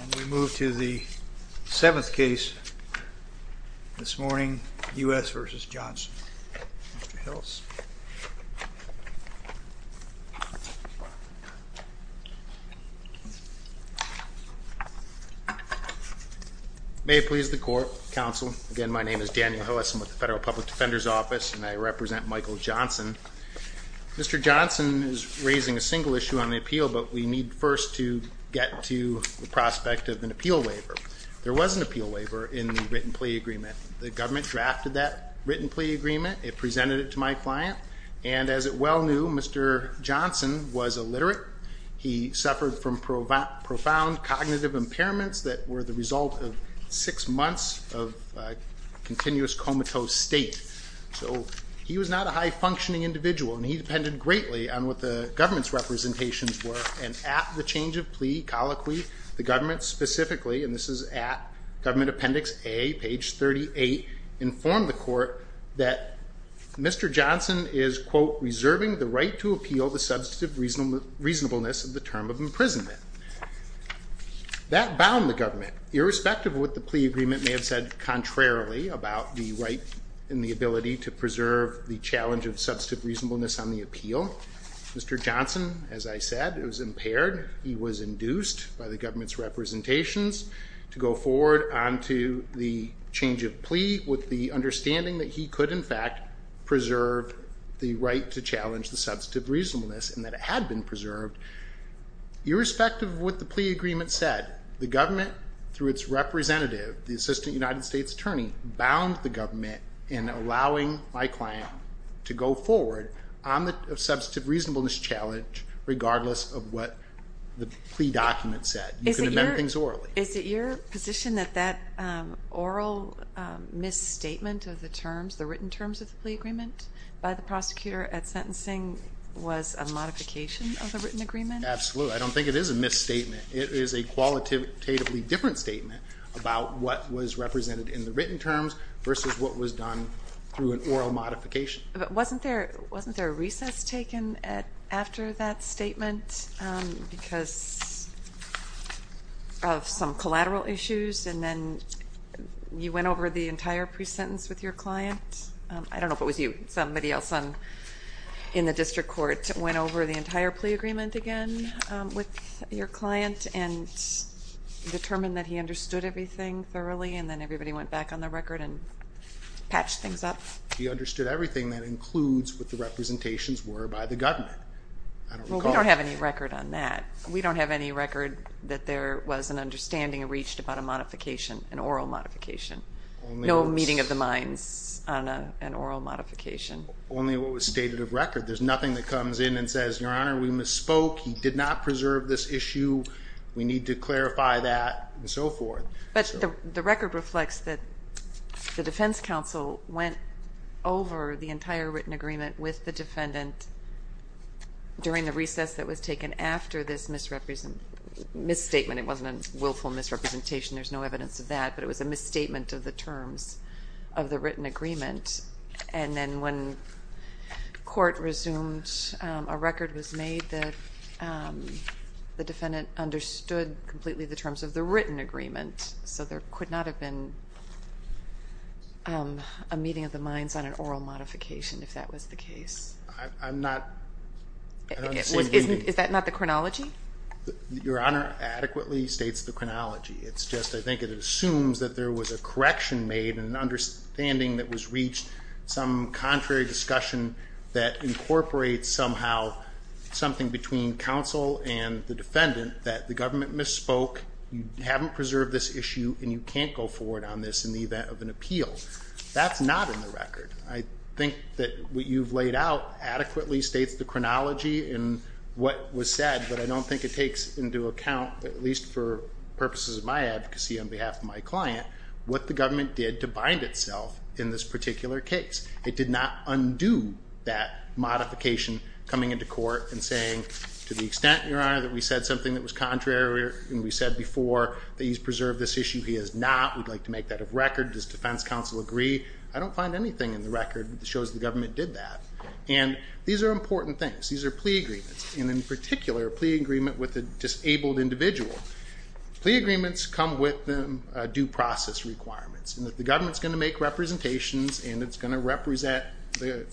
And we move to the seventh case this morning, U.S. v. Johnson. Mr. Hillis. May it please the court, counsel. Again, my name is Daniel Hillis. I'm with the Federal Public Defender's Office, and I represent Michael Johnson. Mr. Johnson is raising a single issue on the appeal, but we need first to get to the prospect of an appeal waiver. There was an appeal waiver in the written plea agreement. The government drafted that written plea agreement. It presented it to my client, and as it well knew, Mr. Johnson was illiterate. He suffered from profound cognitive impairments that were the result of six months of continuous comatose state. So he was not a high-functioning individual, and he depended greatly on what the government's representations were. And at the change of plea, colloquy, the government specifically, and this is at Government Appendix A, page 38, informed the court that Mr. Johnson is, quote, reserving the right to appeal the substantive reasonableness of the term of imprisonment. That bound the government. Irrespective of what the plea agreement may have said contrarily about the right and the ability to preserve the challenge of substantive reasonableness on the appeal, Mr. Johnson, as I said, was impaired. He was induced by the government's representations to go forward onto the change of plea with the understanding that he could, in fact, preserve the right to challenge the substantive reasonableness and that it had been preserved. Irrespective of what the plea agreement said, the government, through its representative, the Assistant United States Attorney, bound the government in allowing my client to go forward on the substantive reasonableness challenge regardless of what the plea document said. You can amend things orally. Is it your position that that oral misstatement of the terms, the written terms of the plea agreement by the prosecutor at sentencing was a modification of the written agreement? Absolutely. I don't think it is a misstatement. It is a qualitatively different statement about what was represented in the written terms versus what was done through an oral modification. But wasn't there a recess taken after that statement because of some collateral issues and then you went over the entire pre-sentence with your client? I don't know if it was you. Somebody else in the district court went over the entire plea agreement again with your client and determined that he understood everything thoroughly and then everybody went back on the record and patched things up. He understood everything that includes what the representations were by the government. We don't have any record on that. We don't have any record that there was an understanding reached about a modification, an oral modification, no meeting of the minds on an oral modification. Only what was stated of record. There's nothing that comes in and says, Your Honor, we misspoke, he did not preserve this issue, we need to clarify that, and so forth. But the record reflects that the defense counsel went over the entire written agreement with the defendant during the recess that was taken after this misstatement. It wasn't a willful misrepresentation. There's no evidence of that, but it was a misstatement of the terms of the written agreement. And then when court resumed, a record was made that the defendant understood completely the terms of the written agreement. So there could not have been a meeting of the minds on an oral modification if that was the case. I'm not seeing anything. Is that not the chronology? Your Honor adequately states the chronology. It's just I think it assumes that there was a correction made, an understanding that was reached, some contrary discussion that incorporates somehow something between counsel and the defendant that the government misspoke, you haven't preserved this issue, and you can't go forward on this in the event of an appeal. That's not in the record. I think that what you've laid out adequately states the chronology in what was said, but I don't think it takes into account, at least for purposes of my advocacy on behalf of my client, what the government did to bind itself in this particular case. It did not undo that modification coming into court and saying to the extent, Your Honor, that we said something that was contrary and we said before that he's preserved this issue. He has not. We'd like to make that a record. Does defense counsel agree? I don't find anything in the record that shows the government did that. And these are important things. These are plea agreements, and in particular, a plea agreement with a disabled individual. Plea agreements come with due process requirements. The government's going to make representations and it's going to represent the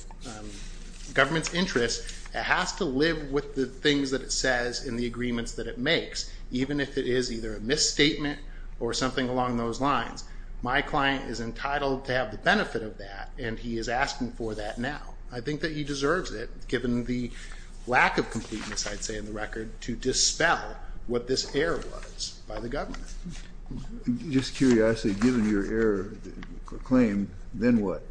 government's interests. It has to live with the things that it says in the agreements that it makes, even if it is either a misstatement or something along those lines. My client is entitled to have the benefit of that, and he is asking for that now. I think that he deserves it, given the lack of completeness, I'd say, in the record to dispel what this error was by the government. Just curiously, given your error claim, then what?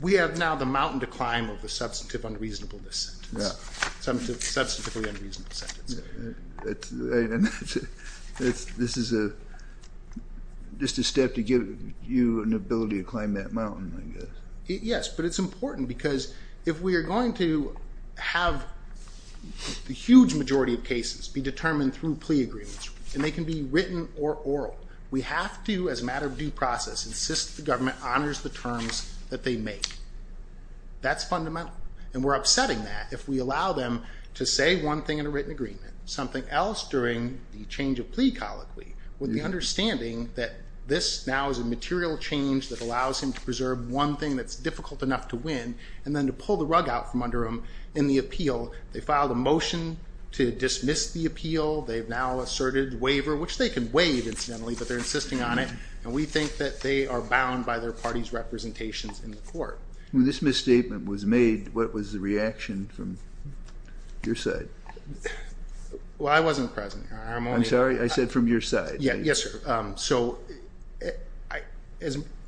We have now the mountain to climb of the substantive unreasonableness sentence. Yeah. Substantively unreasonable sentence. This is just a step to give you an ability to climb that mountain, I guess. Yes, but it's important because if we are going to have the huge majority of cases be determined through plea agreements, and they can be written or oral, we have to, as a matter of due process, insist the government honors the terms that they make. That's fundamental, and we're upsetting that if we allow them to say one thing in a written agreement, something else during the change of plea colloquy, with the understanding that this now is a material change that allows him to preserve one thing that's difficult enough to win, and then to pull the rug out from under him in the appeal. They filed a motion to dismiss the appeal. They've now asserted waiver, which they can waive, incidentally, but they're insisting on it, and we think that they are bound by their party's representations in the court. When this misstatement was made, what was the reaction from your side? Well, I wasn't present. I'm sorry? I said from your side. Yes, sir. So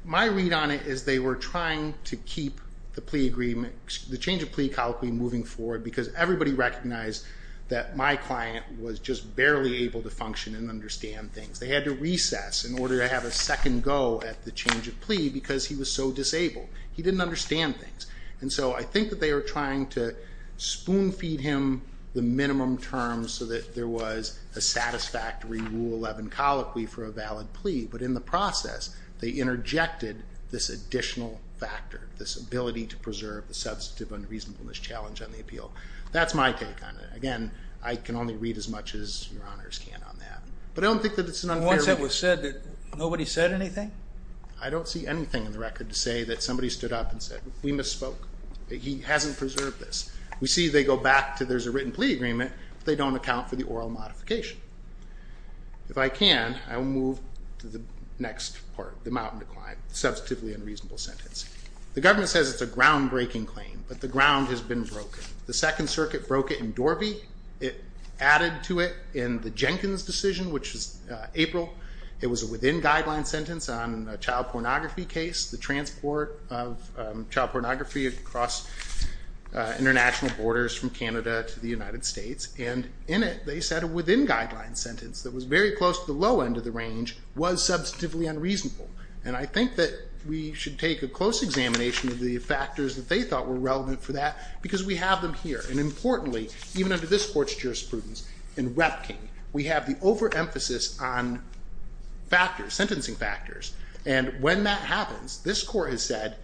my read on it is they were trying to keep the change of plea colloquy moving forward because everybody recognized that my client was just barely able to function and understand things. They had to recess in order to have a second go at the change of plea because he was so disabled. He didn't understand things. And so I think that they were trying to spoon-feed him the minimum terms so that there was a satisfactory Rule 11 colloquy for a valid plea, but in the process they interjected this additional factor, this ability to preserve the substantive unreasonableness challenge on the appeal. That's my take on it. Again, I can only read as much as Your Honors can on that. But I don't think that it's an unfair read. Once it was said, nobody said anything? I don't see anything in the record to say that somebody stood up and said, We misspoke. He hasn't preserved this. We see they go back to there's a written plea agreement, but they don't account for the oral modification. If I can, I will move to the next part, the mountain to climb, the substantively unreasonable sentence. The government says it's a groundbreaking claim, but the ground has been broken. The Second Circuit broke it in Dorby. It added to it in the Jenkins decision, which was April. It was a within guideline sentence on a child pornography case, the transport of child pornography across international borders from Canada to the United States, and in it they said a within guideline sentence that was very close to the low end of the range was substantively unreasonable. And I think that we should take a close examination of the factors that they thought were relevant for that because we have them here. And importantly, even under this Court's jurisprudence, in Rep King, we have the overemphasis on factors, sentencing factors. And when that happens, this Court has said,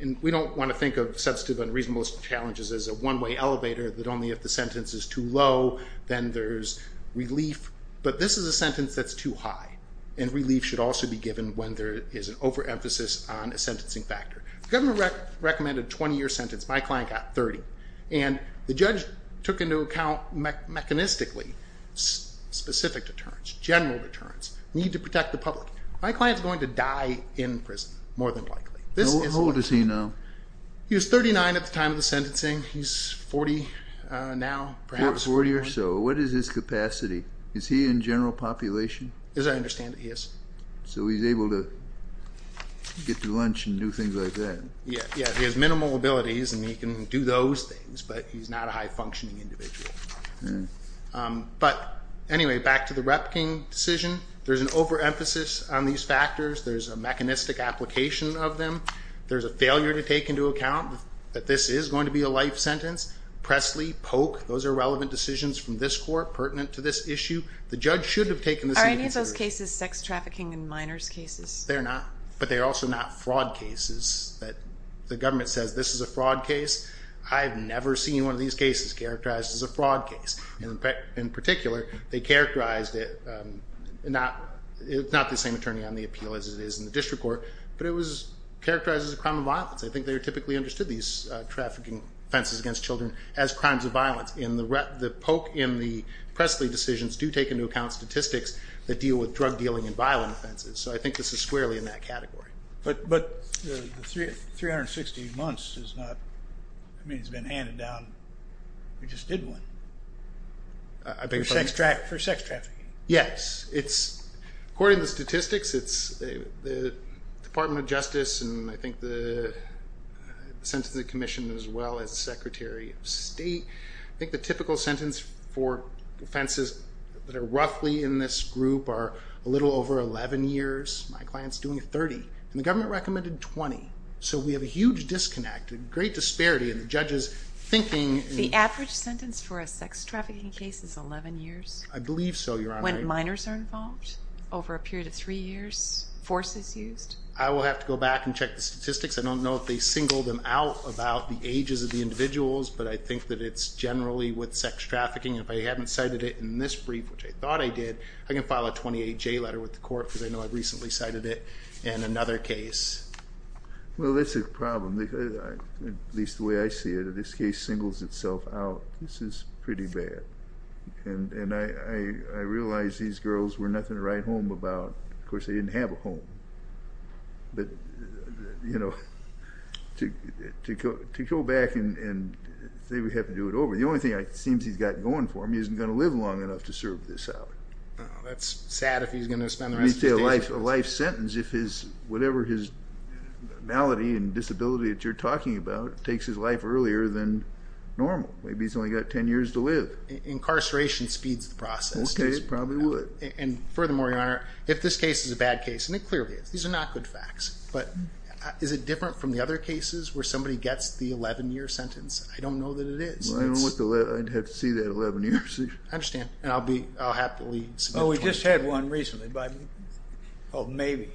and we don't want to think of substantive unreasonable challenges as a one-way elevator that only if the sentence is too low, then there's relief. But this is a sentence that's too high, and relief should also be given when there is an overemphasis on a sentencing factor. The government recommended a 20-year sentence. My client got 30. And the judge took into account mechanistically specific deterrents, general deterrents, need to protect the public. My client is going to die in prison, more than likely. How old is he now? He was 39 at the time of the sentencing. He's 40 now, perhaps. Forty or so. What is his capacity? Is he in general population? As I understand it, he is. So he's able to get to lunch and do things like that. Yeah, he has minimal abilities, and he can do those things, but he's not a high-functioning individual. But anyway, back to the Repking decision. There's an overemphasis on these factors. There's a mechanistic application of them. There's a failure to take into account that this is going to be a life sentence. Pressley, Polk, those are relevant decisions from this Court pertinent to this issue. The judge should have taken this into consideration. Are any of those cases sex trafficking in minors cases? They're not. But they're also not fraud cases. The government says this is a fraud case. I've never seen one of these cases characterized as a fraud case. In particular, they characterized it. It's not the same attorney on the appeal as it is in the district court, but it was characterized as a crime of violence. I think they typically understood these trafficking offenses against children as crimes of violence. The Polk and the Pressley decisions do take into account statistics that deal with drug dealing and violent offenses. So I think this is squarely in that category. But 360 months has been handed down. We just did one for sex trafficking. Yes. According to the statistics, the Department of Justice and I think the Sentencing Commission as well as the Secretary of State, I think the typical sentence for offenses that are roughly in this group are a little over 11 years. My client's doing a 30. And the government recommended 20. So we have a huge disconnect, a great disparity in the judges' thinking. The average sentence for a sex trafficking case is 11 years? I believe so, Your Honor. When minors are involved? Over a period of three years? Forces used? I will have to go back and check the statistics. I don't know if they singled them out about the ages of the individuals, but I think that it's generally with sex trafficking. If I haven't cited it in this brief, which I thought I did, I can file a 28J letter with the court because I know I recently cited it in another case. Well, that's a problem, at least the way I see it. If this case singles itself out, this is pretty bad. And I realize these girls were nothing to write home about. Of course, they didn't have a home. But, you know, to go back and say we have to do it over, the only thing it seems he's got going for him, he isn't going to live long enough to serve this out. That's sad if he's going to spend the rest of his days in prison. A life sentence, whatever his malady and disability that you're talking about, takes his life earlier than normal. Maybe he's only got 10 years to live. Incarceration speeds the process. Okay, it probably would. And furthermore, Your Honor, if this case is a bad case, and it clearly is, these are not good facts, but is it different from the other cases where somebody gets the 11-year sentence? I don't know that it is. I'd have to see that 11-year procedure. I understand. And I'll happily support 22. No, we just had one recently called Maybe.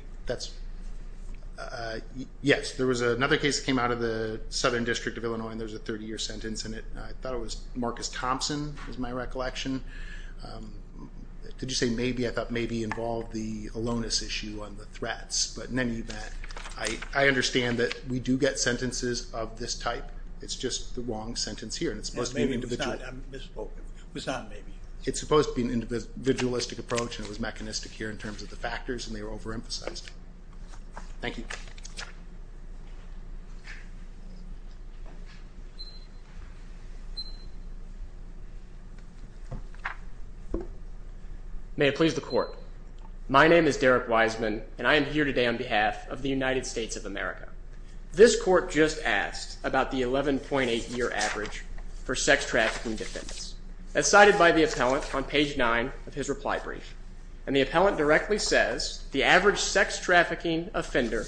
Yes, there was another case that came out of the Southern District of Illinois, and there was a 30-year sentence in it. I thought it was Marcus Thompson was my recollection. Did you say Maybe? I thought Maybe involved the aloneness issue on the threats. But in any event, I understand that we do get sentences of this type. It's just the wrong sentence here, and it's supposed to be individual. Maybe it was not. I misspoke. It was not Maybe. It's supposed to be an individualistic approach, and it was mechanistic here in terms of the factors, and they were overemphasized. Thank you. May it please the Court. My name is Derek Wiseman, and I am here today on behalf of the United States of America. This Court just asked about the 11.8-year average for sex-trafficking defendants. That's cited by the appellant on page 9 of his reply brief. And the appellant directly says, the average sex-trafficking offender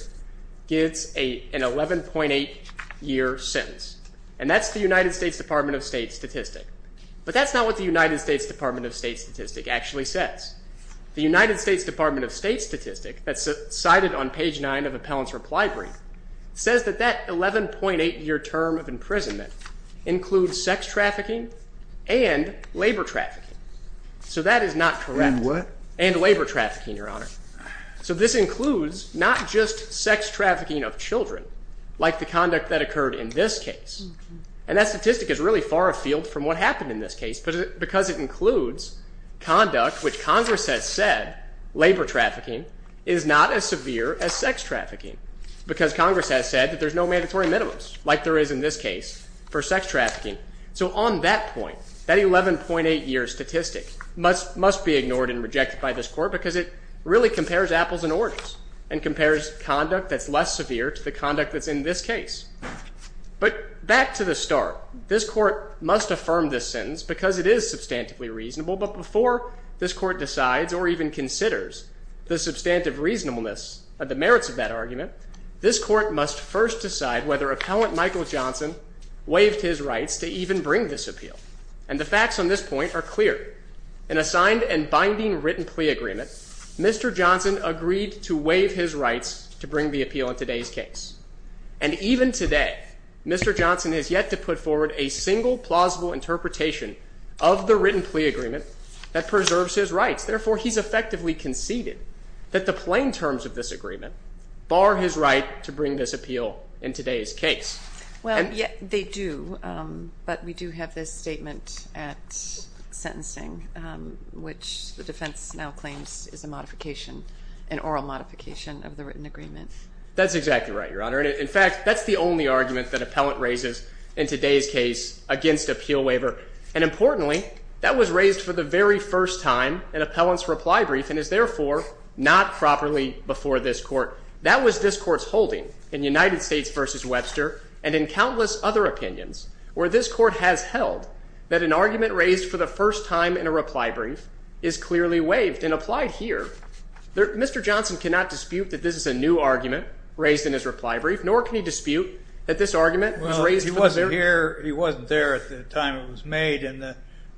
gets an 11.8-year sentence. And that's the United States Department of State statistic. But that's not what the United States Department of State statistic actually says. The United States Department of State statistic that's cited on page 9 of the appellant's reply brief says that that 11.8-year term of imprisonment includes sex-trafficking and labor trafficking. So that is not correct. And what? And labor trafficking, Your Honor. So this includes not just sex-trafficking of children, like the conduct that occurred in this case. And that statistic is really far afield from what happened in this case because it includes conduct which Congress has said labor trafficking is not as severe as sex-trafficking because Congress has said that there's no mandatory minimums, like there is in this case, for sex-trafficking. So on that point, that 11.8-year statistic must be ignored and rejected by this Court because it really compares apples and oranges and compares conduct that's less severe to the conduct that's in this case. But back to the start, this Court must affirm this sentence because it is substantively reasonable. But before this Court decides or even considers the substantive reasonableness of the merits of that argument, this Court must first decide whether Appellant Michael Johnson waived his rights to even bring this appeal. And the facts on this point are clear. In a signed and binding written plea agreement, Mr. Johnson agreed to waive his rights to bring the appeal in today's case. And even today, Mr. Johnson has yet to put forward a single plausible interpretation of the written plea agreement that preserves his rights. Therefore, he's effectively conceded that the plain terms of this agreement bar his right to bring this appeal in today's case. Well, they do, but we do have this statement at sentencing, which the defense now claims is a modification, an oral modification of the written agreement. That's exactly right, Your Honor. In fact, that's the only argument that Appellant raises in today's case against appeal waiver. And importantly, that was raised for the very first time in Appellant's reply brief and is therefore not properly before this Court. That was this Court's holding in United States v. Webster and in countless other opinions where this Court has held that an argument raised for the first time in a reply brief is clearly waived and applied here. Mr. Johnson cannot dispute that this is a new argument raised in his reply brief, nor can he dispute that this argument was raised for the first time. Well, he wasn't there at the time it was made, and it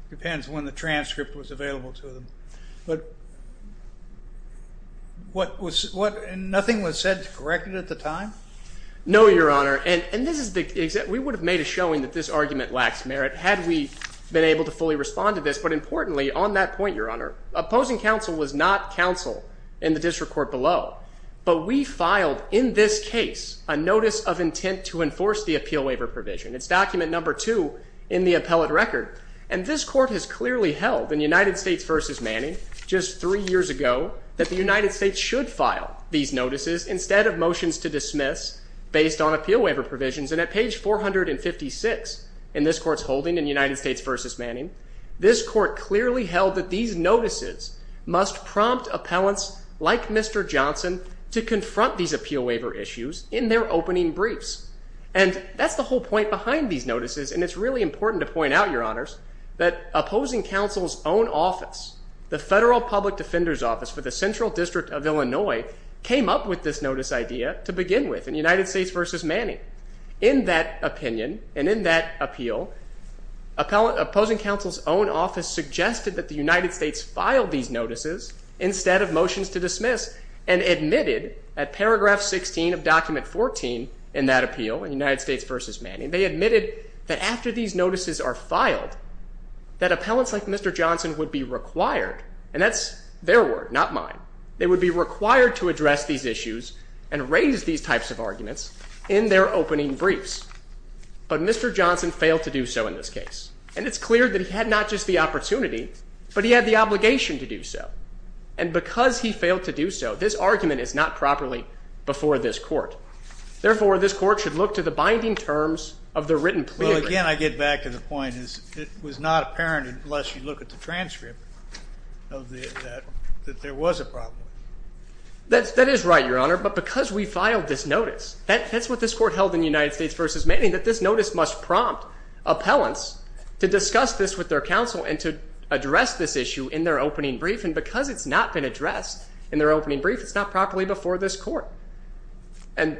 depends on when the transcript was available to him. But nothing was said to correct it at the time? No, Your Honor, and we would have made a showing that this argument lacks merit had we been able to fully respond to this, but importantly, on that point, Your Honor, opposing counsel was not counsel in the district court below, but we filed in this case a notice of intent to enforce the appeal waiver provision. It's document number two in the Appellate record, and this Court has clearly held in United States v. Manning just three years ago that the United States should file these notices instead of motions to dismiss based on appeal waiver provisions. And at page 456 in this Court's holding in United States v. Manning, this Court clearly held that these notices must prompt appellants like Mr. Johnson to confront these appeal waiver issues in their opening briefs. And that's the whole point behind these notices, and it's really important to point out, Your Honors, that opposing counsel's own office, the Federal Public Defender's Office for the Central District of Illinois, came up with this notice idea to begin with in United States v. Manning. In that opinion and in that appeal, opposing counsel's own office suggested that the United States file these notices instead of motions to dismiss and admitted at paragraph 16 of document 14 in that appeal in United States v. Manning, they admitted that after these notices are filed, that appellants like Mr. Johnson would be required, and that's their word, not mine, they would be required to address these issues and raise these types of arguments in their opening briefs. But Mr. Johnson failed to do so in this case. And it's clear that he had not just the opportunity, but he had the obligation to do so. And because he failed to do so, this argument is not properly before this Court. Therefore, this Court should look to the binding terms of the written plea agreement. Well, again, I get back to the point. It was not apparent unless you look at the transcript that there was a problem. That is right, Your Honor, but because we filed this notice, that's what this Court held in United States v. Manning, that this notice must prompt appellants to discuss this with their counsel and to address this issue in their opening brief. And because it's not been addressed in their opening brief, it's not properly before this Court. And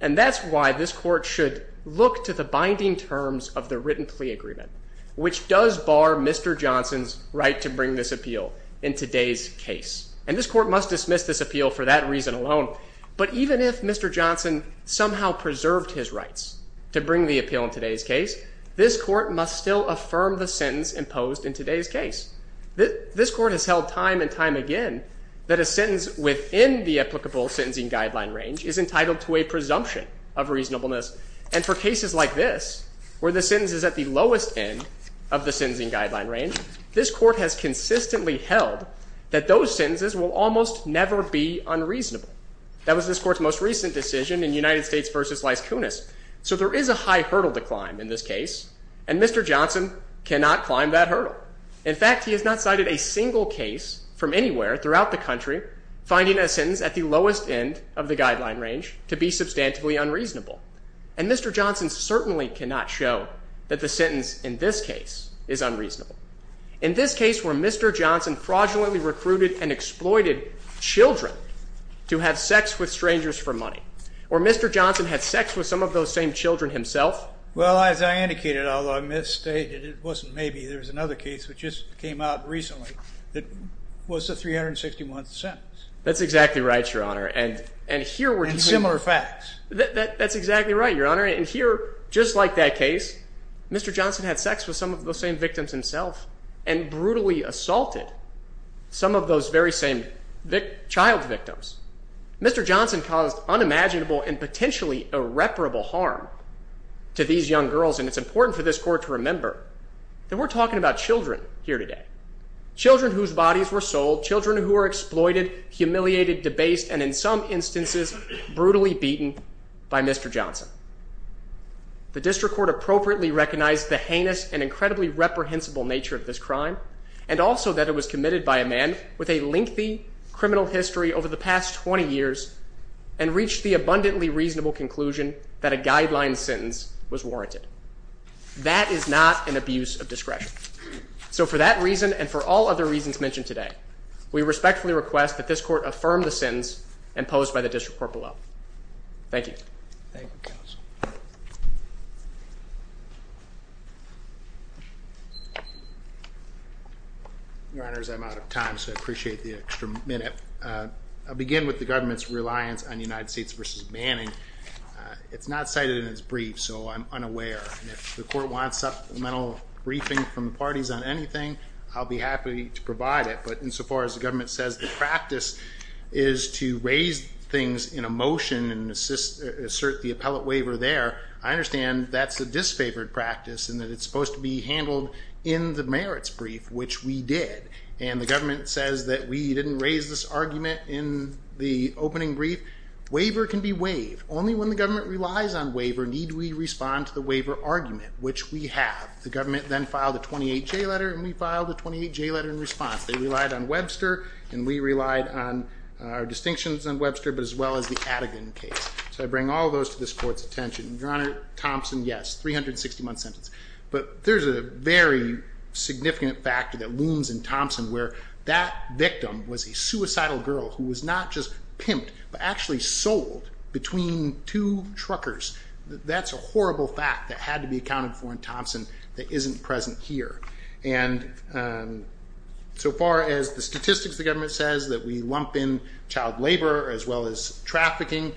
that's why this Court should look to the binding terms of the written plea agreement, which does bar Mr. Johnson's right to bring this appeal in today's case. And this Court must dismiss this appeal for that reason alone. But even if Mr. Johnson somehow preserved his rights to bring the appeal in today's case, this Court must still affirm the sentence imposed in today's case. This Court has held time and time again that a sentence within the applicable sentencing guideline range is entitled to a presumption of reasonableness. And for cases like this, where the sentence is at the lowest end of the sentencing guideline range, this Court has consistently held that those sentences will almost never be unreasonable. That was this Court's most recent decision in United States v. Lys Kunis. So there is a high hurdle to climb in this case, and Mr. Johnson cannot climb that hurdle. In fact, he has not cited a single case from anywhere throughout the country finding a sentence at the lowest end of the guideline range to be substantively unreasonable. And Mr. Johnson certainly cannot show that the sentence in this case is unreasonable. In this case, where Mr. Johnson fraudulently recruited and exploited children to have sex with strangers for money, where Mr. Johnson had sex with some of those same children himself. Well, as I indicated, although I misstated, it wasn't maybe. There was another case which just came out recently that was the 361th sentence. That's exactly right, Your Honor. And here we're doing... And similar facts. That's exactly right, Your Honor. And here, just like that case, Mr. Johnson had sex with some of those same victims himself and brutally assaulted some of those very same child victims. Mr. Johnson caused unimaginable and potentially irreparable harm to these young girls. And it's important for this Court to remember that we're talking about children here today, children whose bodies were sold, children who were exploited, humiliated, debased, and in some instances brutally beaten by Mr. Johnson. The District Court appropriately recognized the heinous and incredibly reprehensible nature of this crime and also that it was committed by a man with a lengthy criminal history over the past 20 years and reached the abundantly reasonable conclusion that a guideline sentence was warranted. That is not an abuse of discretion. So for that reason and for all other reasons mentioned today, we respectfully request that this Court affirm the sentence imposed by the District Court below. Thank you. Thank you, Counsel. Your Honors, I'm out of time, so I appreciate the extra minute. I'll begin with the government's reliance on United States v. Manning. It's not cited in its brief, so I'm unaware. If the Court wants supplemental briefing from the parties on anything, I'll be happy to provide it. But insofar as the government says the practice is to raise things in a motion and assert the appellate waiver there, I understand that's a disfavored practice and that it's supposed to be handled in the merits brief, which we did. And the government says that we didn't raise this argument in the opening brief. Waiver can be waived. Only when the government relies on waiver need we respond to the waiver argument, which we have. The government then filed a 28-J letter, and we filed a 28-J letter in response. They relied on Webster, and we relied on our distinctions on Webster, but as well as the Adegan case. So I bring all those to this Court's attention. Your Honor, Thompson, yes, 360-month sentence. But there's a very significant factor that looms in Thompson where that victim was a suicidal girl who was not just pimped but actually sold between two truckers. That's a horrible fact that had to be accounted for in Thompson that isn't present here. And so far as the statistics the government says that we lump in child labor as well as trafficking,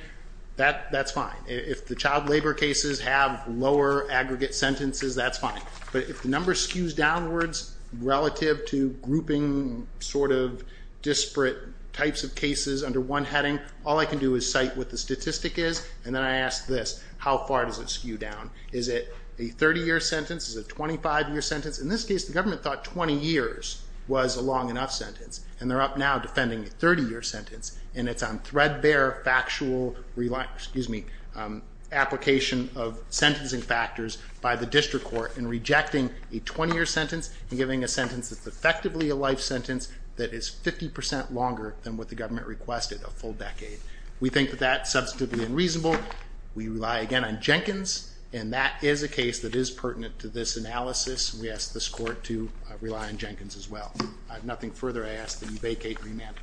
that's fine. If the child labor cases have lower aggregate sentences, that's fine. But if the number skews downwards relative to grouping sort of disparate types of cases under one heading, all I can do is cite what the statistic is, and then I ask this, how far does it skew down? Is it a 30-year sentence? Is it a 25-year sentence? In this case, the government thought 20 years was a long enough sentence, and they're up now defending a 30-year sentence, and it's on threadbare factual application of sentencing factors by the district court in rejecting a 20-year sentence and giving a sentence that's effectively a life sentence that is 50 percent longer than what the government requested, a full decade. We think that that's substantively unreasonable. We rely again on Jenkins, and that is a case that is pertinent to this analysis. We ask this court to rely on Jenkins as well. I have nothing further to ask that you vacate remand.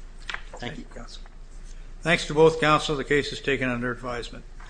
Thank you, counsel. Thanks to both counsel. The case is taken under advisement.